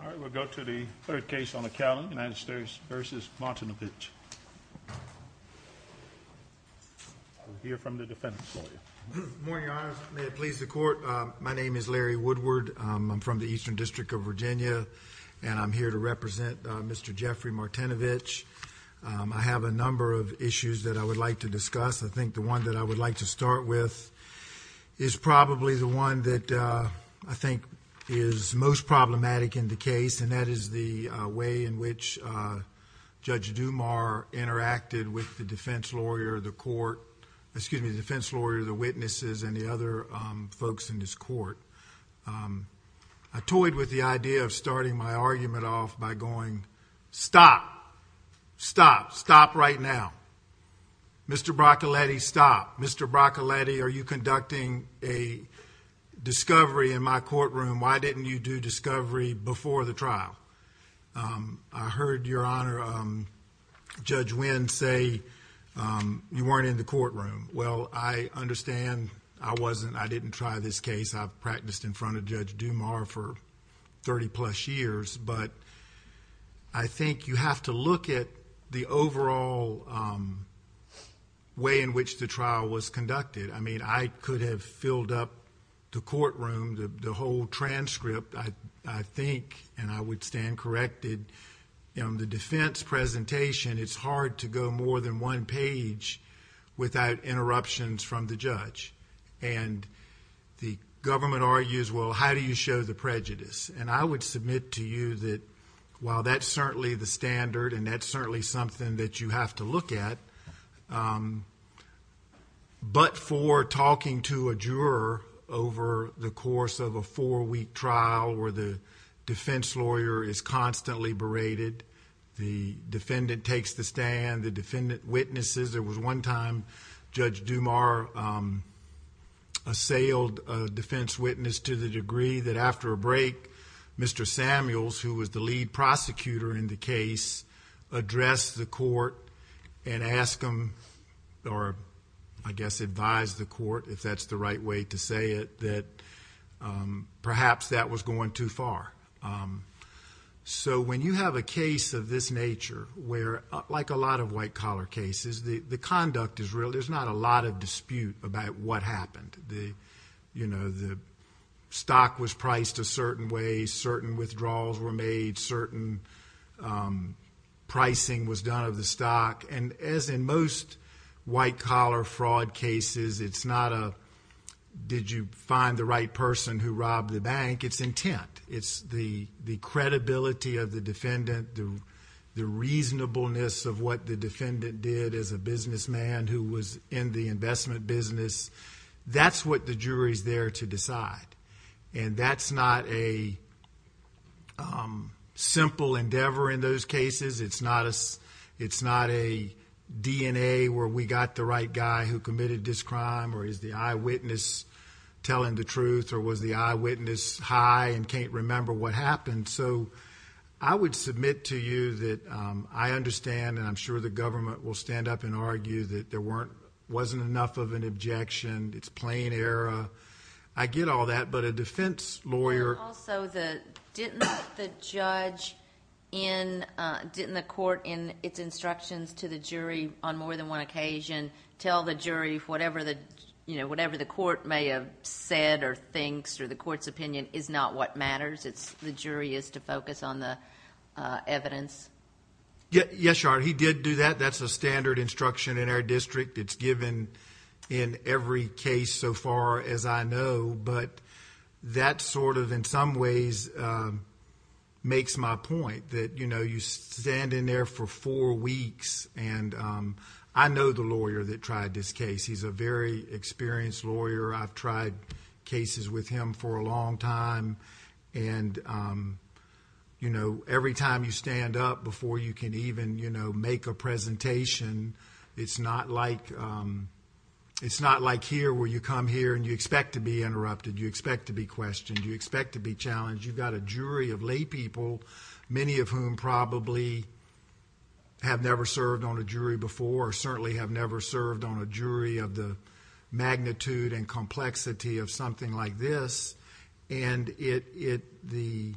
All right, we'll go to the third case on the calendar, United States v. Martinovich. We'll hear from the defendant's lawyer. Good morning, Your Honor. May it please the Court, my name is Larry Woodward. I'm from the Eastern District of Virginia, and I'm here to represent Mr. Jeffrey Martinovich. I have a number of issues that I would like to discuss. I think the one that I would like to start with is probably the one that I think is most problematic in the case, and that is the way in which Judge Dumas interacted with the defense lawyer, the witnesses, and the other folks in this court. I toyed with the idea of starting my argument off by going, stop, stop, stop right now. Mr. Bracaletti, stop. Mr. Bracaletti, are you conducting a discovery in my courtroom? Why didn't you do discovery before the trial? I heard, Your Honor, Judge Winn say you weren't in the courtroom. Well, I understand. I wasn't. I didn't try this case. I've practiced in front of Judge Dumas for 30-plus years, but I think you have to look at the overall way in which the trial was conducted. I mean, I could have filled up the courtroom, the whole transcript, I think, and I would stand corrected. In the defense presentation, it's hard to go more than one page without interruptions from the judge. And the government argues, well, how do you show the prejudice? And I would submit to you that while that's certainly the standard and that's certainly something that you have to look at, but for talking to a juror over the course of a four-week trial where the defense lawyer is constantly berated, the defendant takes the stand, the defendant witnesses. There was one time Judge Dumas assailed a defense witness to the degree that after a break, Mr. Samuels, who was the lead prosecutor in the case, addressed the court and asked him or, I guess, advised the court, if that's the right way to say it, that perhaps that was going too far. So when you have a case of this nature where, like a lot of white-collar cases, the conduct is real. There's not a lot of dispute about what happened. The stock was priced a certain way, certain withdrawals were made, certain pricing was done of the stock. And as in most white-collar fraud cases, it's not a did you find the right person who robbed the bank? It's intent. It's the credibility of the defendant, the reasonableness of what the defendant did as a businessman who was in the investment business. That's what the jury's there to decide, and that's not a simple endeavor in those cases. It's not a DNA where we got the right guy who committed this crime, or is the eyewitness telling the truth, or was the eyewitness high and can't remember what happened. So I would submit to you that I understand, and I'm sure the government will stand up and argue, that there wasn't enough of an objection, it's plain error. I get all that, but a defense lawyer... And also, didn't the judge in... didn't the court in its instructions to the jury on more than one occasion tell the jury whatever the court may have said or thinks or the court's opinion is not what matters, it's the jury is to focus on the evidence? Yes, Your Honor. He did do that. That's a standard instruction in our district. It's given in every case so far as I know, but that sort of in some ways makes my point, that you stand in there for four weeks, and I know the lawyer that tried this case. He's a very experienced lawyer. I've tried cases with him for a long time, and every time you stand up before you can even make a presentation, it's not like here where you come here and you expect to be interrupted, you expect to be questioned, you expect to be challenged. You've got a jury of laypeople, many of whom probably have never served on a jury before, certainly have never served on a jury of the magnitude and complexity of something like this, and the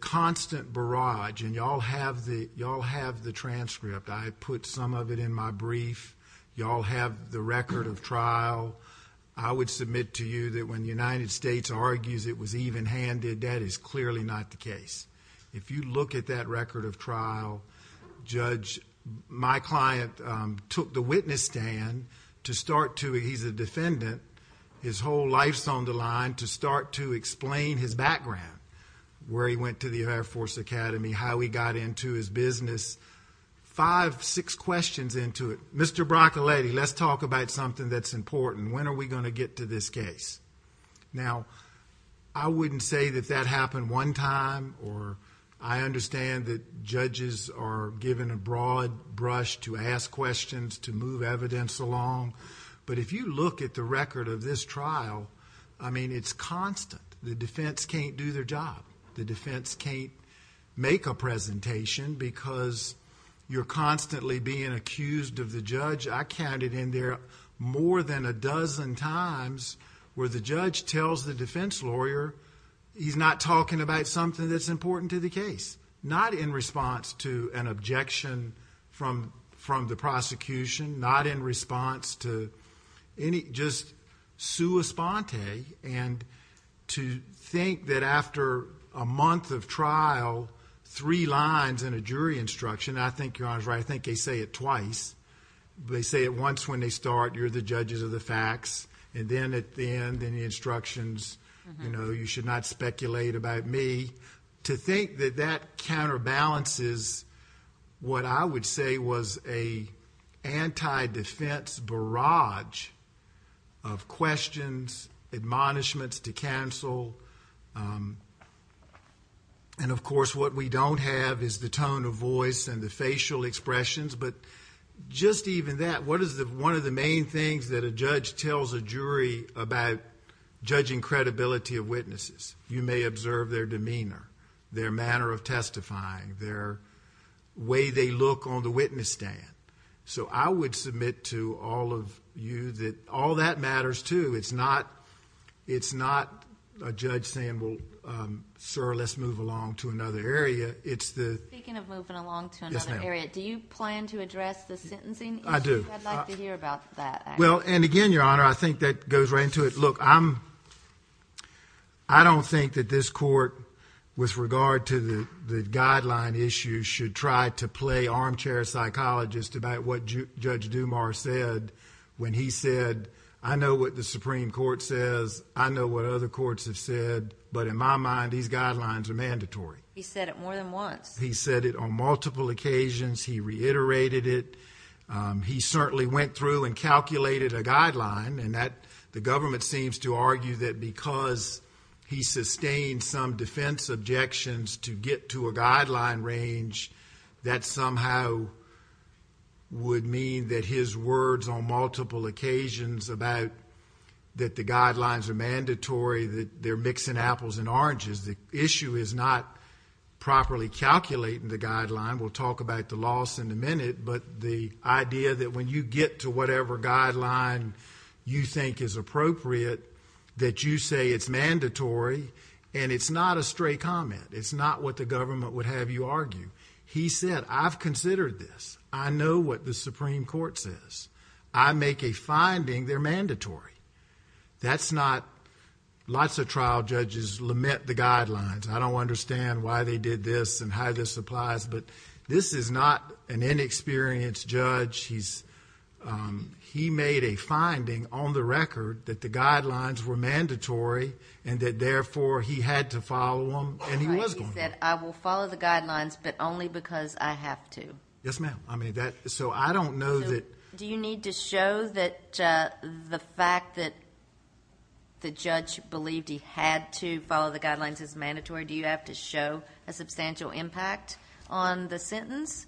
constant barrage, and you all have the transcript. I put some of it in my brief. You all have the record of trial. I would submit to you that when the United States argues it was even-handed, that is clearly not the case. If you look at that record of trial, Judge, my client took the witness stand to start to, he's a defendant, his whole life's on the line, to start to explain his background, where he went to the Air Force Academy, how he got into his business, five, six questions into it. Mr. Broccoletti, let's talk about something that's important. When are we going to get to this case? Now, I wouldn't say that that happened one time, or I understand that judges are given a broad brush to ask questions, to move evidence along, but if you look at the record of this trial, I mean, it's constant. The defense can't do their job. The defense can't make a presentation because you're constantly being accused of the judge. I counted in there more than a dozen times where the judge tells the defense lawyer he's not talking about something that's important to the case, not in response to an objection from the prosecution, not in response to any, just sua sponte, and to think that after a month of trial, three lines in a jury instruction, and I think Your Honor's right, I think they say it twice. They say it once when they start, you're the judges of the facts, and then at the end in the instructions, you know, you should not speculate about me. To think that that counterbalances what I would say was an anti-defense barrage of questions, admonishments to counsel, and of course what we don't have is the tone of voice and the facial expressions, but just even that, what is one of the main things that a judge tells a jury about judging credibility of witnesses? You may observe their demeanor, their manner of testifying, their way they look on the witness stand. So I would submit to all of you that all that matters too. It's not a judge saying, well, sir, let's move along to another area. Speaking of moving along to another area, do you plan to address the sentencing issue? I do. I'd like to hear about that. Well, and again, Your Honor, I think that goes right into it. Look, I don't think that this court, with regard to the guideline issue, should try to play armchair psychologist about what Judge Dumas said when he said, I know what the Supreme Court says, I know what other courts have said, but in my mind, these guidelines are mandatory. He said it more than once. He said it on multiple occasions. He reiterated it. He certainly went through and calculated a guideline, and the government seems to argue that because he sustained some defense objections to get to a guideline range, that somehow would mean that his words on multiple occasions about that the guidelines are mandatory, that they're mixing apples and oranges. The issue is not properly calculating the guideline. We'll talk about the loss in a minute, but the idea that when you get to whatever guideline you think is appropriate, that you say it's mandatory, and it's not a stray comment. It's not what the government would have you argue. He said, I've considered this. I know what the Supreme Court says. I make a finding they're mandatory. That's not, lots of trial judges lament the guidelines. I don't understand why they did this and how this applies, but this is not an inexperienced judge. He made a finding on the record that the guidelines were mandatory and that, therefore, he had to follow them, and he was going to. He said, I will follow the guidelines, but only because I have to. Yes, ma'am. So I don't know that. Do you need to show that the fact that the judge believed he had to follow the guidelines is mandatory? Do you have to show a substantial impact on the sentence?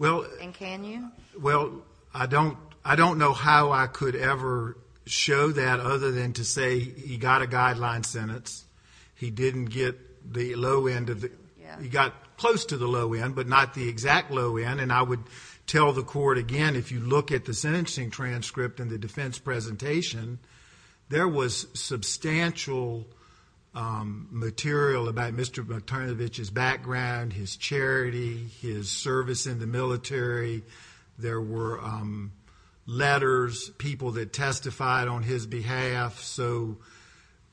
And can you? Well, I don't know how I could ever show that other than to say he got a guideline sentence. He didn't get the low end of the, he got close to the low end, but not the exact low end, and I would tell the court, again, if you look at the sentencing transcript and the defense presentation, there was substantial material about Mr. McTurnavich's background, his charity, his service in the military. There were letters, people that testified on his behalf. So,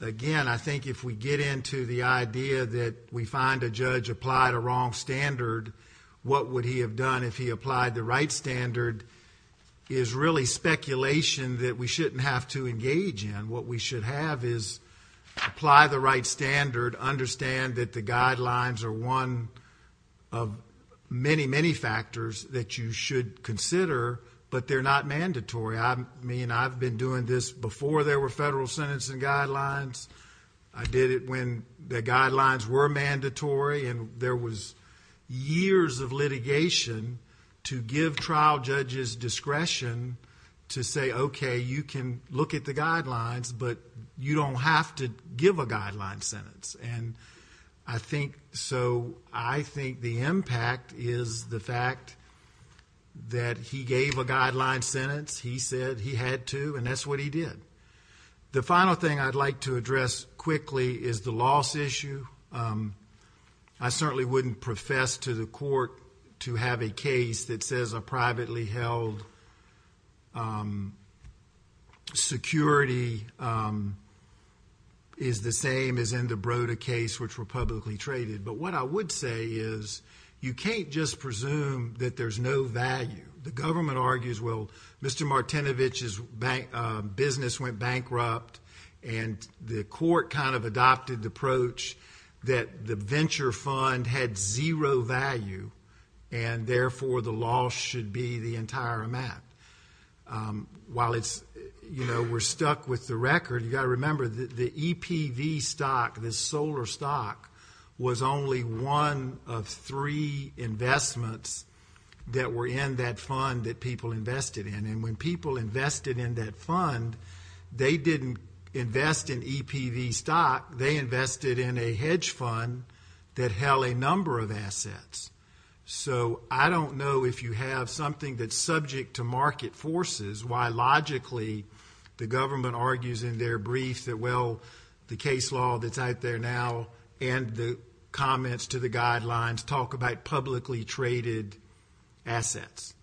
again, I think if we get into the idea that we find a judge applied a wrong standard, what would he have done if he applied the right standard is really speculation that we shouldn't have to engage in. What we should have is apply the right standard, understand that the guidelines are one of many, many factors that you should consider, but they're not mandatory. I mean, I've been doing this before there were federal sentencing guidelines. I did it when the guidelines were mandatory, and there was years of litigation to give trial judges discretion to say, okay, you can look at the guidelines, but you don't have to give a guideline sentence. And so I think the impact is the fact that he gave a guideline sentence, he said he had to, and that's what he did. The final thing I'd like to address quickly is the loss issue. I certainly wouldn't profess to the court to have a case that says a privately held security is the same as in the Broda case, which were publicly traded. But what I would say is you can't just presume that there's no value. The government argues, well, Mr. Martinovich's business went bankrupt, and the court kind of adopted the approach that the venture fund had zero value, and therefore the loss should be the entire amount. While it's, you know, we're stuck with the record. You've got to remember the EPV stock, the solar stock, was only one of three investments that were in that fund that people invested in. And when people invested in that fund, they didn't invest in EPV stock. They invested in a hedge fund that held a number of assets. So I don't know if you have something that's subject to market forces, why logically the government argues in their brief that, well, the case law that's out there now and the comments to the guidelines talk about publicly traded assets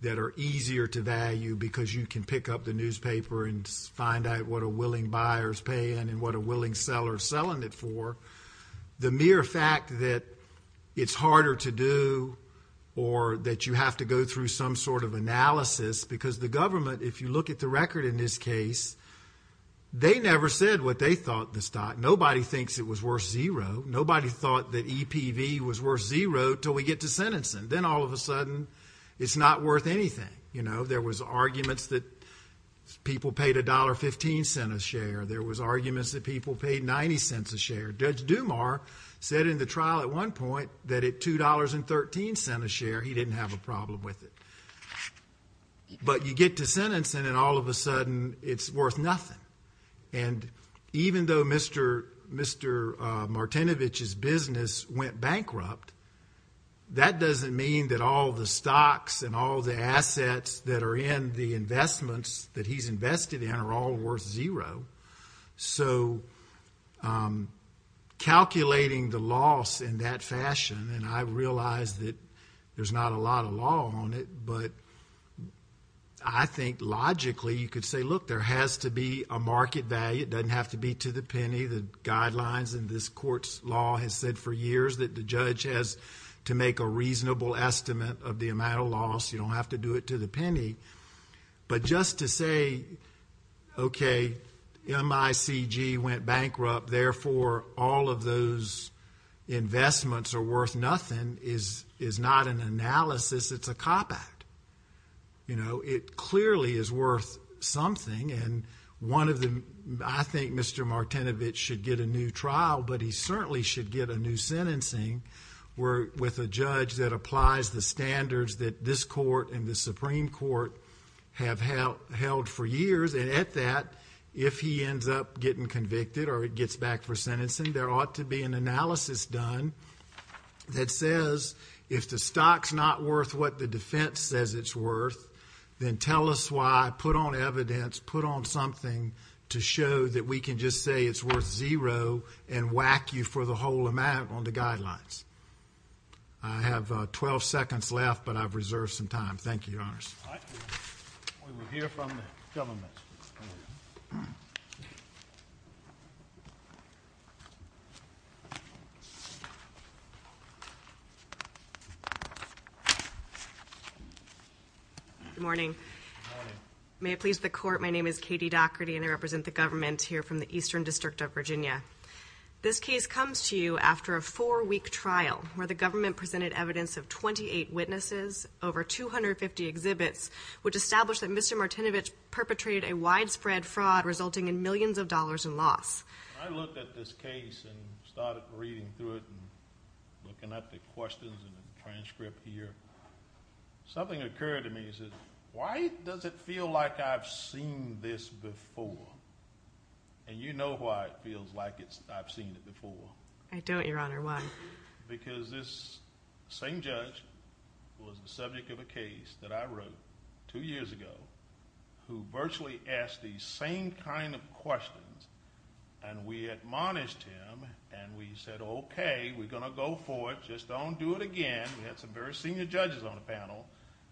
that are easier to value because you can pick up the newspaper and find out what a willing buyer is paying and what a willing seller is selling it for. The mere fact that it's harder to do or that you have to go through some sort of analysis because the government, if you look at the record in this case, they never said what they thought the stock. Nobody thinks it was worth zero. Nobody thought that EPV was worth zero until we get to sentencing. Then all of a sudden it's not worth anything. You know, there was arguments that people paid $1.15 a share. There was arguments that people paid $0.90 a share. Judge Dumar said in the trial at one point that at $2.13 a share he didn't have a problem with it. But you get to sentencing and all of a sudden it's worth nothing. And even though Mr. Martinovich's business went bankrupt, that doesn't mean that all the stocks and all the assets that are in the investments that he's invested in are all worth zero. So calculating the loss in that fashion, and I realize that there's not a lot of law on it, but I think logically you could say, look, there has to be a market value. It doesn't have to be to the penny. The guidelines in this court's law has said for years that the judge has to make a reasonable estimate of the amount of loss. You don't have to do it to the penny. But just to say, okay, MICG went bankrupt, therefore all of those investments are worth nothing, is not an analysis. It's a cop-out. You know, it clearly is worth something. And one of the – I think Mr. Martinovich should get a new trial, but he certainly should get a new sentencing with a judge that applies the standards that this court and the Supreme Court have held for years. And at that, if he ends up getting convicted or gets back for sentencing, there ought to be an analysis done that says if the stock's not worth what the defense says it's worth, then tell us why, put on evidence, put on something to show that we can just say it's worth zero and whack you for the whole amount on the guidelines. I have 12 seconds left, but I've reserved some time. Thank you, Your Honors. All right. We will hear from the government. Good morning. Good morning. May it please the Court, my name is Katie Dougherty, and I represent the government here from the Eastern District of Virginia. This case comes to you after a four-week trial where the government presented evidence of 28 witnesses, over 250 exhibits, which established that Mr. Martinovich perpetrated a widespread fraud resulting in millions of dollars in loss. I looked at this case and started reading through it and looking at the questions in the transcript here. Something occurred to me and I said, why does it feel like I've seen this before? And you know why it feels like I've seen it before. I don't, Your Honor. Why? Because this same judge was the subject of a case that I wrote two years ago who virtually asked these same kind of questions, and we admonished him, and we said, okay, we're going to go for it, just don't do it again. We had some very senior judges on the panel.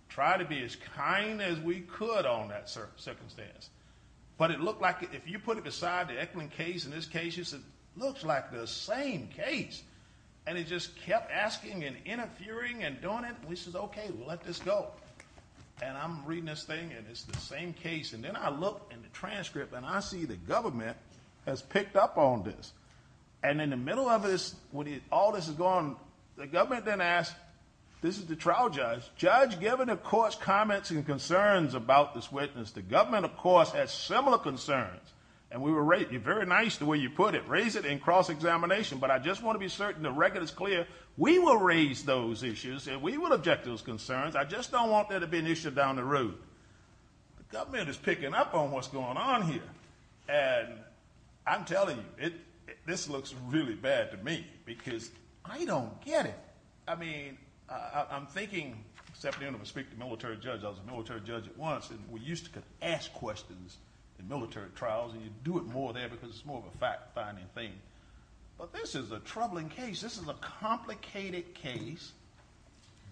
Try to be as kind as we could on that circumstance. But it looked like, if you put it aside, the Eklund case and this case, it looks like the same case. And he just kept asking and interfering and doing it, and we said, okay, we'll let this go. And I'm reading this thing and it's the same case. And then I look in the transcript and I see the government has picked up on this. And in the middle of this, when all this is going, the government then asks, this is the trial judge, Judge, given the court's comments and concerns about this witness, the government, of course, has similar concerns. And we were very nice the way you put it, raise it in cross-examination, but I just want to be certain the record is clear. We will raise those issues and we will object to those concerns. I just don't want there to be an issue down the road. The government is picking up on what's going on here. And I'm telling you, this looks really bad to me because I don't get it. I mean, I'm thinking, except being able to speak to a military judge, I was a military judge at once, and we used to ask questions in military trials, and you do it more there because it's more of a fact-finding thing. But this is a troubling case. This is a complicated case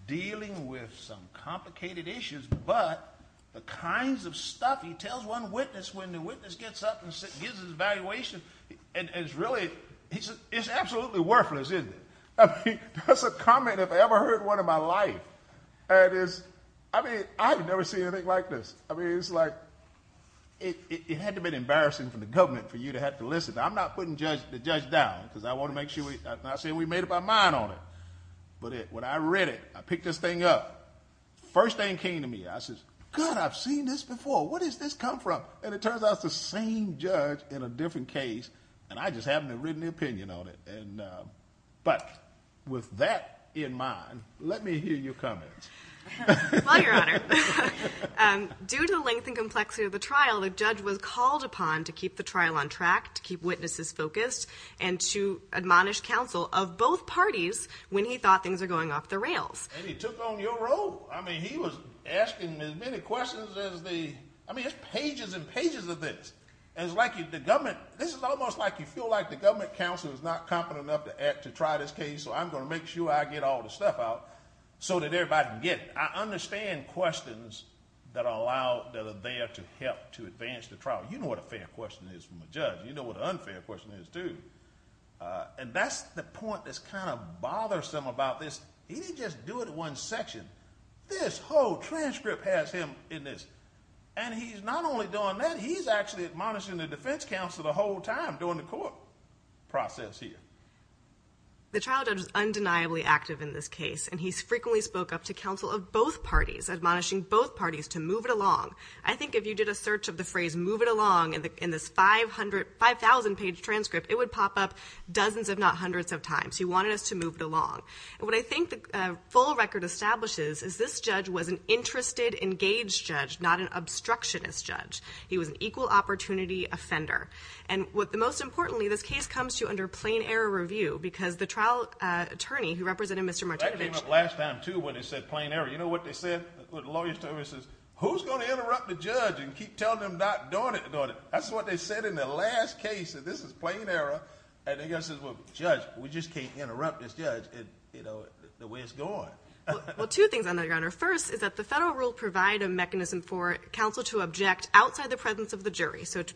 dealing with some complicated issues, but the kinds of stuff he tells one witness when the witness gets up and gives his evaluation, and it's really, it's absolutely worthless, isn't it? I mean, that's a comment if I ever heard one in my life. And it's, I mean, I've never seen anything like this. I mean, it's like, it had to have been embarrassing for the government for you to have to listen. I'm not putting the judge down because I want to make sure, I'm not saying we made up our mind on it. But when I read it, I picked this thing up. First thing that came to me, I said, God, I've seen this before. What does this come from? And it turns out it's the same judge in a different case, and I just haven't written an opinion on it. But with that in mind, let me hear your comments. Well, Your Honor, due to the length and complexity of the trial, the judge was called upon to keep the trial on track, to keep witnesses focused, and to admonish counsel of both parties when he thought things were going off the rails. And he took on your role. I mean, he was asking as many questions as the, I mean, there's pages and pages of this. And it's like the government, this is almost like you feel like the government counsel is not competent enough to try this case, so I'm going to make sure I get all the stuff out so that everybody can get it. I understand questions that are allowed, that are there to help to advance the trial. You know what a fair question is from a judge. You know what an unfair question is, too. And that's the point that's kind of bothersome about this. He didn't just do it in one section. This whole transcript has him in this. And he's not only doing that, he's actually admonishing the defense counsel the whole time during the court process here. The trial judge is undeniably active in this case, and he's frequently spoke up to counsel of both parties, admonishing both parties to move it along. I think if you did a search of the phrase move it along in this 5,000-page transcript, it would pop up dozens if not hundreds of times. He wanted us to move it along. And what I think the full record establishes is this judge was an interested, engaged judge, not an obstructionist judge. He was an equal opportunity offender. And most importantly, this case comes to you under plain error review because the trial attorney who represented Mr. Martinovich That came up last time, too, when they said plain error. You know what they said, what the lawyers told them? They said, who's going to interrupt the judge and keep telling him not doing it? That's what they said in the last case. This is plain error. And the guy says, well, judge, we just can't interrupt this judge the way it's going. Well, two things, Your Honor. First is that the federal rule provide a mechanism for counsel to object outside the presence of the jury, so to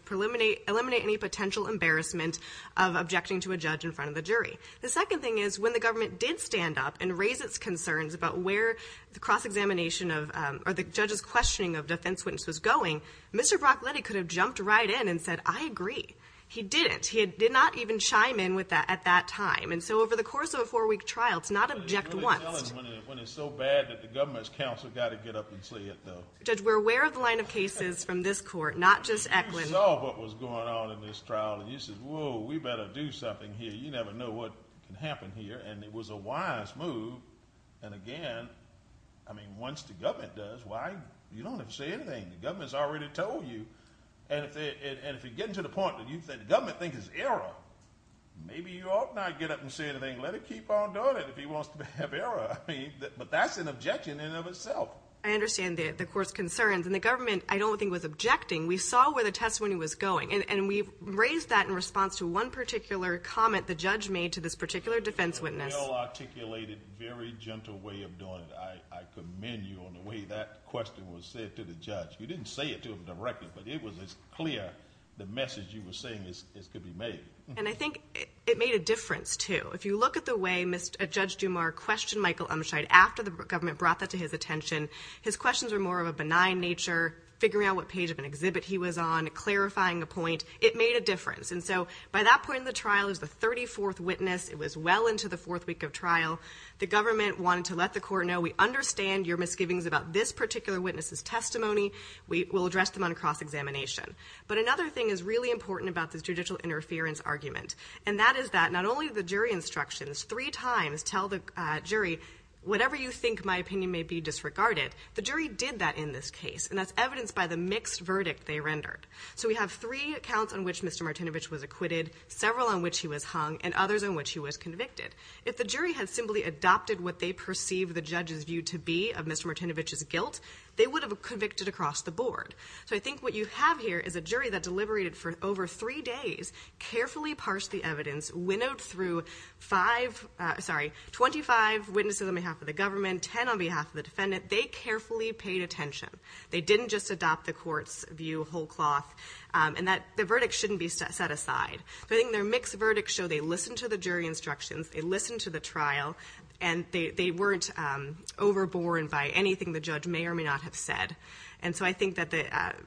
eliminate any potential embarrassment of objecting to a judge in front of the jury. The second thing is when the government did stand up and raise its concerns about where the cross-examination of or the judge's questioning of defense witness was going, Mr. Brockletty could have jumped right in and said, I agree. He didn't. He did not even chime in at that time. And so over the course of a four-week trial, it's not object once. When it's so bad that the government's counsel got to get up and say it, though. Judge, we're aware of the line of cases from this court, not just Eklund. You saw what was going on in this trial, and you said, whoa, we better do something here. You never know what can happen here, and it was a wise move. And again, I mean, once the government does, why? You don't have to say anything. The government's already told you. And if you get to the point that the government thinks it's error, maybe you ought not get up and say anything. Let it keep on doing it if he wants to have error. But that's an objection in and of itself. I understand the court's concerns. And the government, I don't think, was objecting. We saw where the testimony was going. And we've raised that in response to one particular comment the judge made to this particular defense witness. It was a well-articulated, very gentle way of doing it. I commend you on the way that question was said to the judge. You didn't say it to him directly, but it was as clear the message you were saying as could be made. And I think it made a difference, too. If you look at the way Judge Dumar questioned Michael Umshide after the government brought that to his attention, his questions were more of a benign nature, figuring out what page of an exhibit he was on, clarifying a point. It made a difference. And so by that point in the trial, it was the 34th witness. It was well into the fourth week of trial. The government wanted to let the court know, we understand your misgivings about this particular witness's testimony. We'll address them on a cross-examination. But another thing is really important about this judicial interference argument, and that is that not only the jury instructions three times tell the jury, whatever you think my opinion may be disregarded, the jury did that in this case, and that's evidenced by the mixed verdict they rendered. So we have three accounts on which Mr. Martinovich was acquitted, several on which he was hung, and others on which he was convicted. If the jury had simply adopted what they perceived the judge's view to be of Mr. Martinovich's guilt, they would have convicted across the board. So I think what you have here is a jury that deliberated for over three days, carefully parsed the evidence, winnowed through 25 witnesses on behalf of the government, 10 on behalf of the defendant. They carefully paid attention. They didn't just adopt the court's view whole cloth, and the verdict shouldn't be set aside. So I think their mixed verdicts show they listened to the jury instructions, they listened to the trial, and they weren't overborne by anything the judge may or may not have said. And so I think that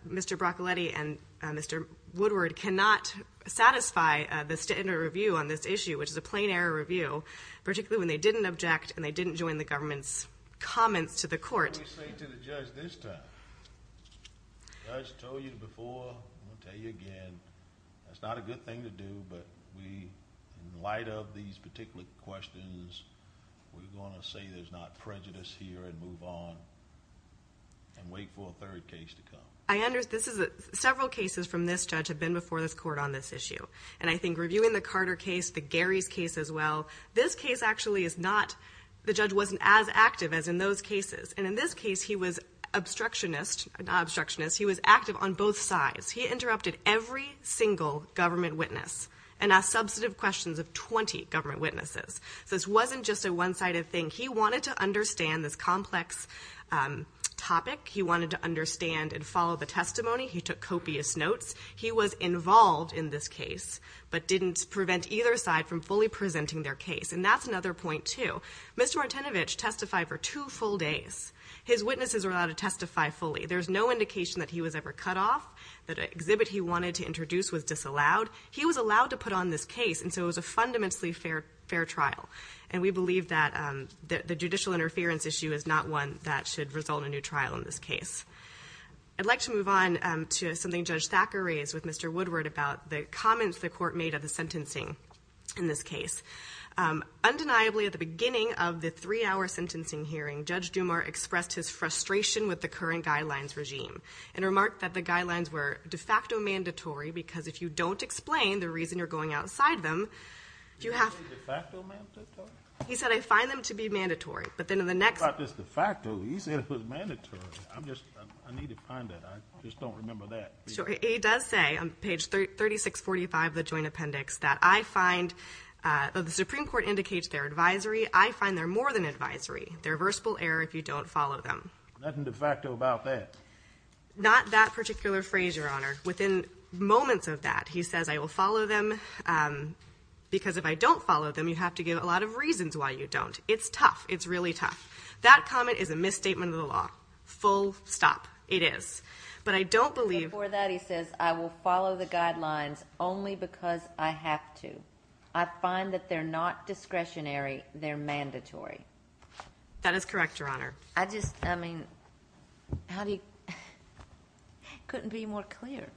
Mr. Broccoletti and Mr. Woodward cannot satisfy the standard review on this issue, which is a plain error review, particularly when they didn't object and they didn't join the government's comments to the court. What do we say to the judge this time? The judge told you before, I'm going to tell you again, that's not a good thing to do, but in light of these particular questions, we're going to say there's not prejudice here and move on and wait for a third case to come. Several cases from this judge have been before this court on this issue, and I think reviewing the Carter case, the Gary's case as well, this case actually is not, the judge wasn't as active as in those cases, and in this case he was obstructionist, not obstructionist, he was active on both sides. He interrupted every single government witness and asked substantive questions of 20 government witnesses. So this wasn't just a one-sided thing. He wanted to understand this complex topic. He wanted to understand and follow the testimony. He took copious notes. He was involved in this case but didn't prevent either side from fully presenting their case, and that's another point too. Mr. Martinovich testified for two full days. His witnesses were allowed to testify fully. There's no indication that he was ever cut off, that an exhibit he wanted to introduce was disallowed. He was allowed to put on this case, and so it was a fundamentally fair trial, and we believe that the judicial interference issue is not one that should result in a new trial in this case. I'd like to move on to something Judge Thacker raised with Mr. Woodward about the comments the court made of the sentencing in this case. Undeniably, at the beginning of the three-hour sentencing hearing, Judge Dumar expressed his frustration with the current guidelines regime and remarked that the guidelines were de facto mandatory because if you don't explain the reason you're going outside them, Do you say de facto mandatory? He said, I find them to be mandatory. But then in the next What about this de facto? He said it was mandatory. I need to find that. I just don't remember that. He does say on page 3645 of the joint appendix that I find, the Supreme Court indicates they're advisory. I find they're more than advisory. They're reversible error if you don't follow them. Nothing de facto about that? Not that particular phrase, Your Honor. Within moments of that, he says, I will follow them. Because if I don't follow them, you have to give a lot of reasons why you don't. It's tough. It's really tough. That comment is a misstatement of the law. Full stop. It is. But I don't believe Before that, he says, I will follow the guidelines only because I have to. I find that they're not discretionary. They're mandatory. That is correct, Your Honor. I just, I mean, how do you, couldn't be more clear.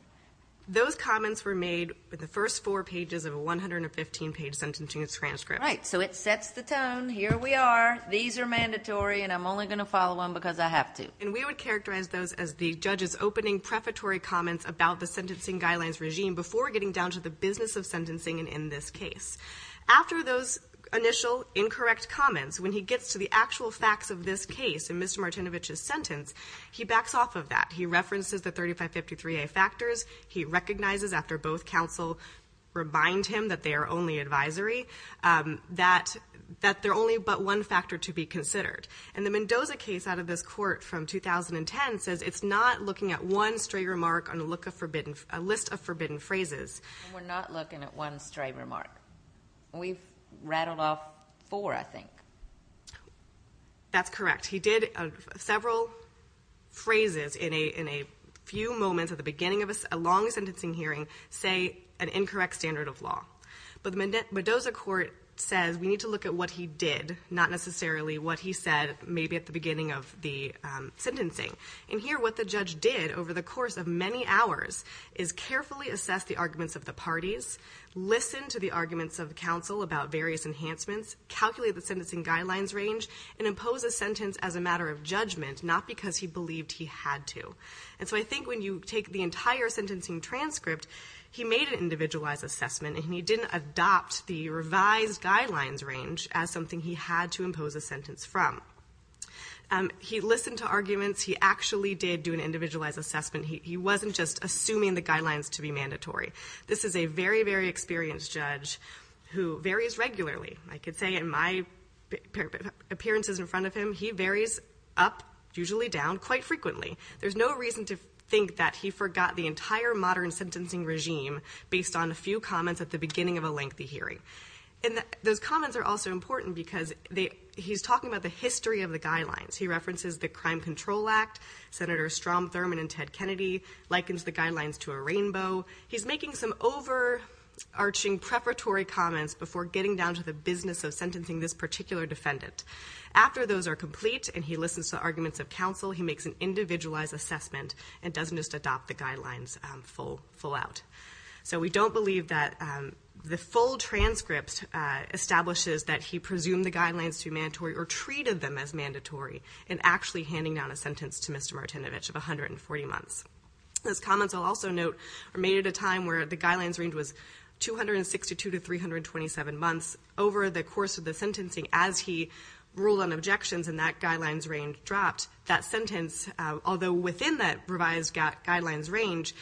Those comments were made in the first four pages of a 115-page sentencing transcript. Right. So it sets the tone. Here we are. These are mandatory, and I'm only going to follow them because I have to. And we would characterize those as the judge's opening prefatory comments about the sentencing guidelines regime before getting down to the business of sentencing in this case. After those initial incorrect comments, when he gets to the actual facts of this case in Mr. Martinovich's sentence, he backs off of that. He references the 3553A factors. He recognizes, after both counsel remind him that they are only advisory, that they're only but one factor to be considered. And the Mendoza case out of this court from 2010 says it's not looking at one stray remark on a list of forbidden phrases. We're not looking at one stray remark. We've rattled off four, I think. That's correct. He did several phrases in a few moments at the beginning of a long sentencing hearing say an incorrect standard of law. But the Mendoza court says we need to look at what he did, not necessarily what he said maybe at the beginning of the sentencing. And here what the judge did over the course of many hours is carefully assess the arguments of the parties, listen to the arguments of counsel about various enhancements, calculate the sentencing guidelines range, and impose a sentence as a matter of judgment, not because he believed he had to. And so I think when you take the entire sentencing transcript, he made an individualized assessment, and he didn't adopt the revised guidelines range as something he had to impose a sentence from. He listened to arguments. He actually did do an individualized assessment. He wasn't just assuming the guidelines to be mandatory. This is a very, very experienced judge who varies regularly, I could say, in my appearances in front of him. He varies up, usually down, quite frequently. There's no reason to think that he forgot the entire modern sentencing regime based on a few comments at the beginning of a lengthy hearing. And those comments are also important because he's talking about the history of the guidelines. He references the Crime Control Act. Senator Strom Thurmond and Ted Kennedy likens the guidelines to a rainbow. He's making some overarching preparatory comments before getting down to the business of sentencing this particular defendant. After those are complete and he listens to arguments of counsel, he makes an individualized assessment and doesn't just adopt the guidelines full out. So we don't believe that the full transcript establishes that he presumed the guidelines to be mandatory or treated them as mandatory in actually handing down a sentence to Mr. Martinovich of 140 months. Those comments, I'll also note, are made at a time where the guidelines range was 262 to 327 months. Over the course of the sentencing, as he ruled on objections and that guidelines range dropped, that sentence, although within that revised guidelines range,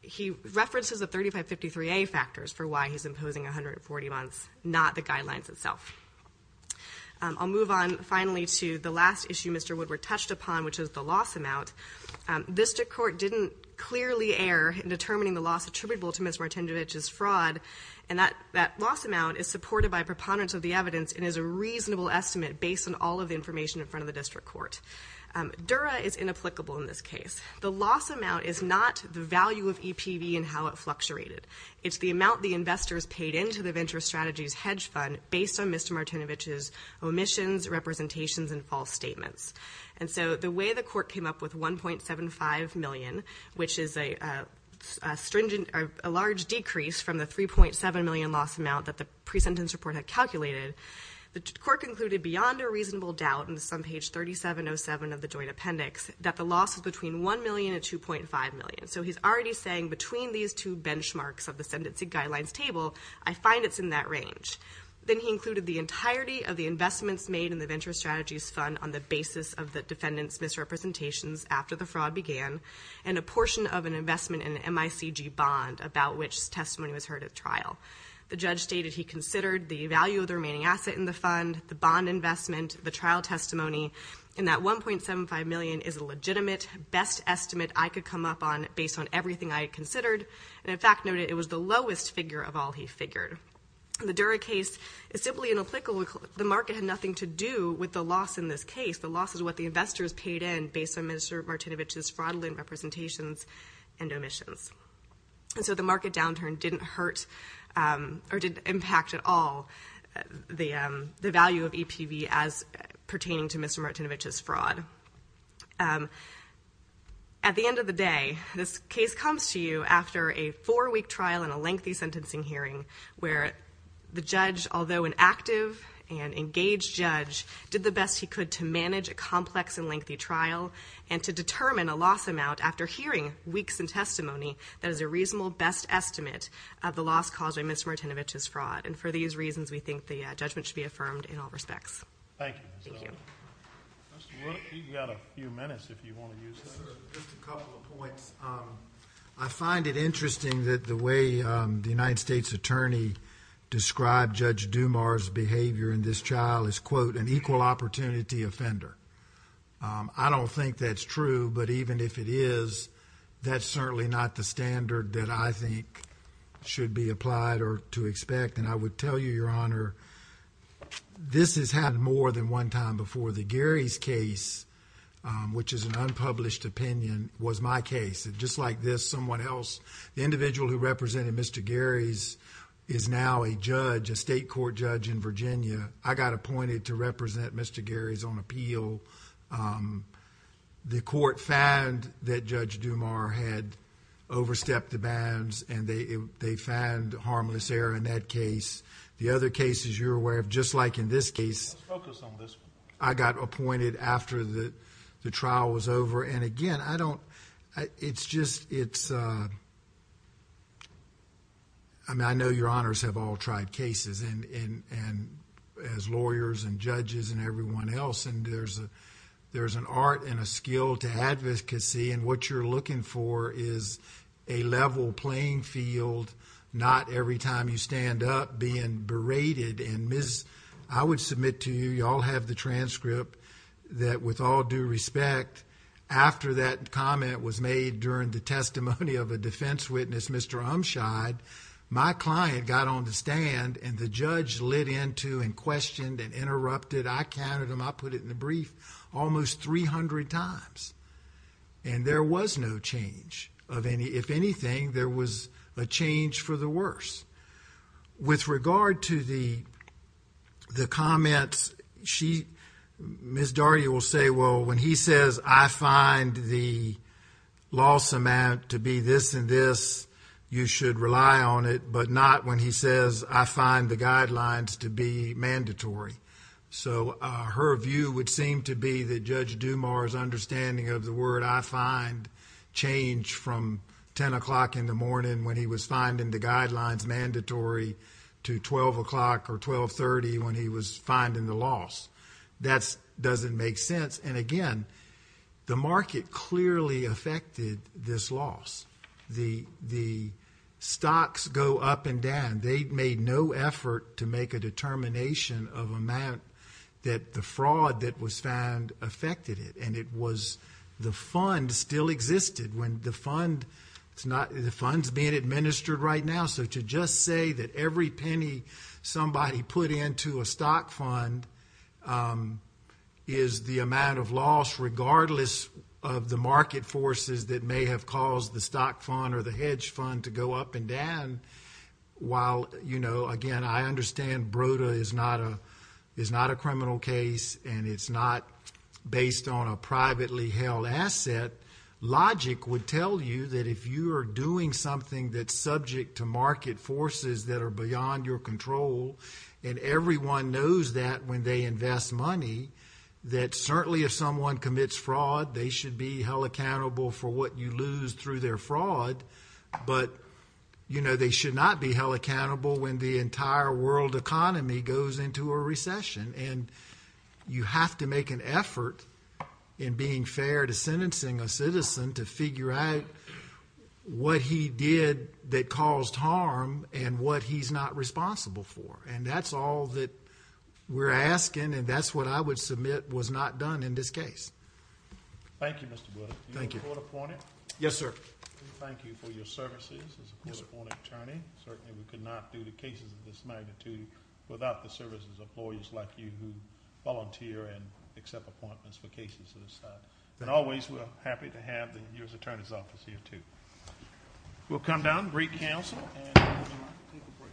he references the 3553A factors for why he's imposing 140 months, not the guidelines itself. I'll move on, finally, to the last issue Mr. Woodward touched upon, which is the loss amount. District Court didn't clearly err in determining the loss attributable to Mr. Martinovich's fraud, and that loss amount is supported by preponderance of the evidence and is a reasonable estimate based on all of the information in front of the District Court. Dura is inapplicable in this case. The loss amount is not the value of EPV and how it fluctuated. It's the amount the investors paid into the Venture Strategies Hedge Fund based on Mr. Martinovich's omissions, representations, and false statements. And so the way the court came up with $1.75 million, which is a large decrease from the $3.7 million loss amount that the pre-sentence report had calculated, the court concluded beyond a reasonable doubt on page 3707 of the joint appendix that the loss was between $1 million and $2.5 million. So he's already saying between these two benchmarks of the sentencing guidelines table, I find it's in that range. Then he included the entirety of the investments made in the Venture Strategies Fund on the basis of the defendant's misrepresentations after the fraud began and a portion of an investment in an MICG bond about which testimony was heard at trial. The judge stated he considered the value of the remaining asset in the fund, the bond investment, the trial testimony, and that $1.75 million is a legitimate, best estimate I could come up on based on everything I had considered, and in fact noted it was the lowest figure of all he figured. The Dura case is simply inapplicable. The market had nothing to do with the loss in this case. The loss is what the investors paid in based on Mr. Martinovich's fraudulent representations and omissions. So the market downturn didn't hurt or didn't impact at all the value of EPV as pertaining to Mr. Martinovich's fraud. At the end of the day, this case comes to you after a four-week trial and a lengthy sentencing hearing where the judge, although an active and engaged judge, did the best he could to manage a complex and lengthy trial and to determine a loss amount after hearing weeks in testimony that is a reasonable best estimate of the loss caused by Mr. Martinovich's fraud. And for these reasons, we think the judgment should be affirmed in all respects. Thank you. You've got a few minutes if you want to use that. Just a couple of points. I find it interesting that the way the United States attorney described Judge Dumar's behavior in this trial is, quote, an equal opportunity offender. I don't think that's true, but even if it is, that's certainly not the standard that I think should be applied or to expect. And I would tell you, Your Honor, this has happened more than one time before. The Garys case, which is an unpublished opinion, was my case. Just like this, someone else, the individual who represented Mr. Garys is now a judge, a state court judge in Virginia. I got appointed to represent Mr. Garys on appeal. The court found that Judge Dumar had overstepped the bounds and they found harmless error in that case. The other cases you're aware of, just like in this case... Let's focus on this one. I got appointed after the trial was over, and again, I don't... It's just... I mean, I know Your Honors have all tried cases as lawyers and judges and everyone else, and there's an art and a skill to advocacy, and what you're looking for is a level playing field, not every time you stand up being berated. I would submit to you... You all have the transcript that with all due respect, after that comment was made during the testimony of a defense witness, Mr. Umscheid, my client got on the stand and the judge lit into and questioned and interrupted. I counted them. I put it in the brief almost 300 times, and there was no change. If anything, there was a change for the worse. With regard to the comments, she... Ms. Daugherty will say, well, when he says, I find the loss amount to be this and this, you should rely on it, but not when he says, I find the guidelines to be mandatory. So, her view would seem to be that Judge Dumar's understanding of the word I find changed from 10 o'clock in the morning when he was finding the guidelines mandatory to 12 o'clock or 1230 when he was finding the loss. That doesn't make sense. And again, the market clearly affected this loss. The stocks go up and down. They made no effort to make a determination of amount that the fraud that was found affected it, and it was... the fund still existed. When the fund... the fund's being administered right now, so to just say that every penny somebody put into a stock fund is the amount of loss regardless of the market forces that may have caused the stock fund or the hedge fund to go up and down, while, you know, again, I understand BRODA is not a criminal case, and it's not based on a privately held asset, logic would tell you that if you are doing something that's subject to market forces that are beyond your control, and everyone knows that when they invest money, that certainly if someone commits fraud, they should be held accountable for what you lose through their fraud, but, you know, they should not be held accountable when the entire world economy goes into a recession. And you have to make an effort in being fair to sentencing a citizen to figure out what he did that caused harm and what he's not responsible for. And that's all that we're asking, and that's what I would submit was not done in this case. Thank you, Mr. Blood. Thank you. Are you a court appointed? Yes, sir. Thank you for your services as a court appointed attorney. Certainly we could not do the cases of this magnitude without the services of lawyers like you who volunteer and accept appointments for cases of this type. And always we're happy to have your attorney's office here too. We'll come down, greet counsel, and take a break.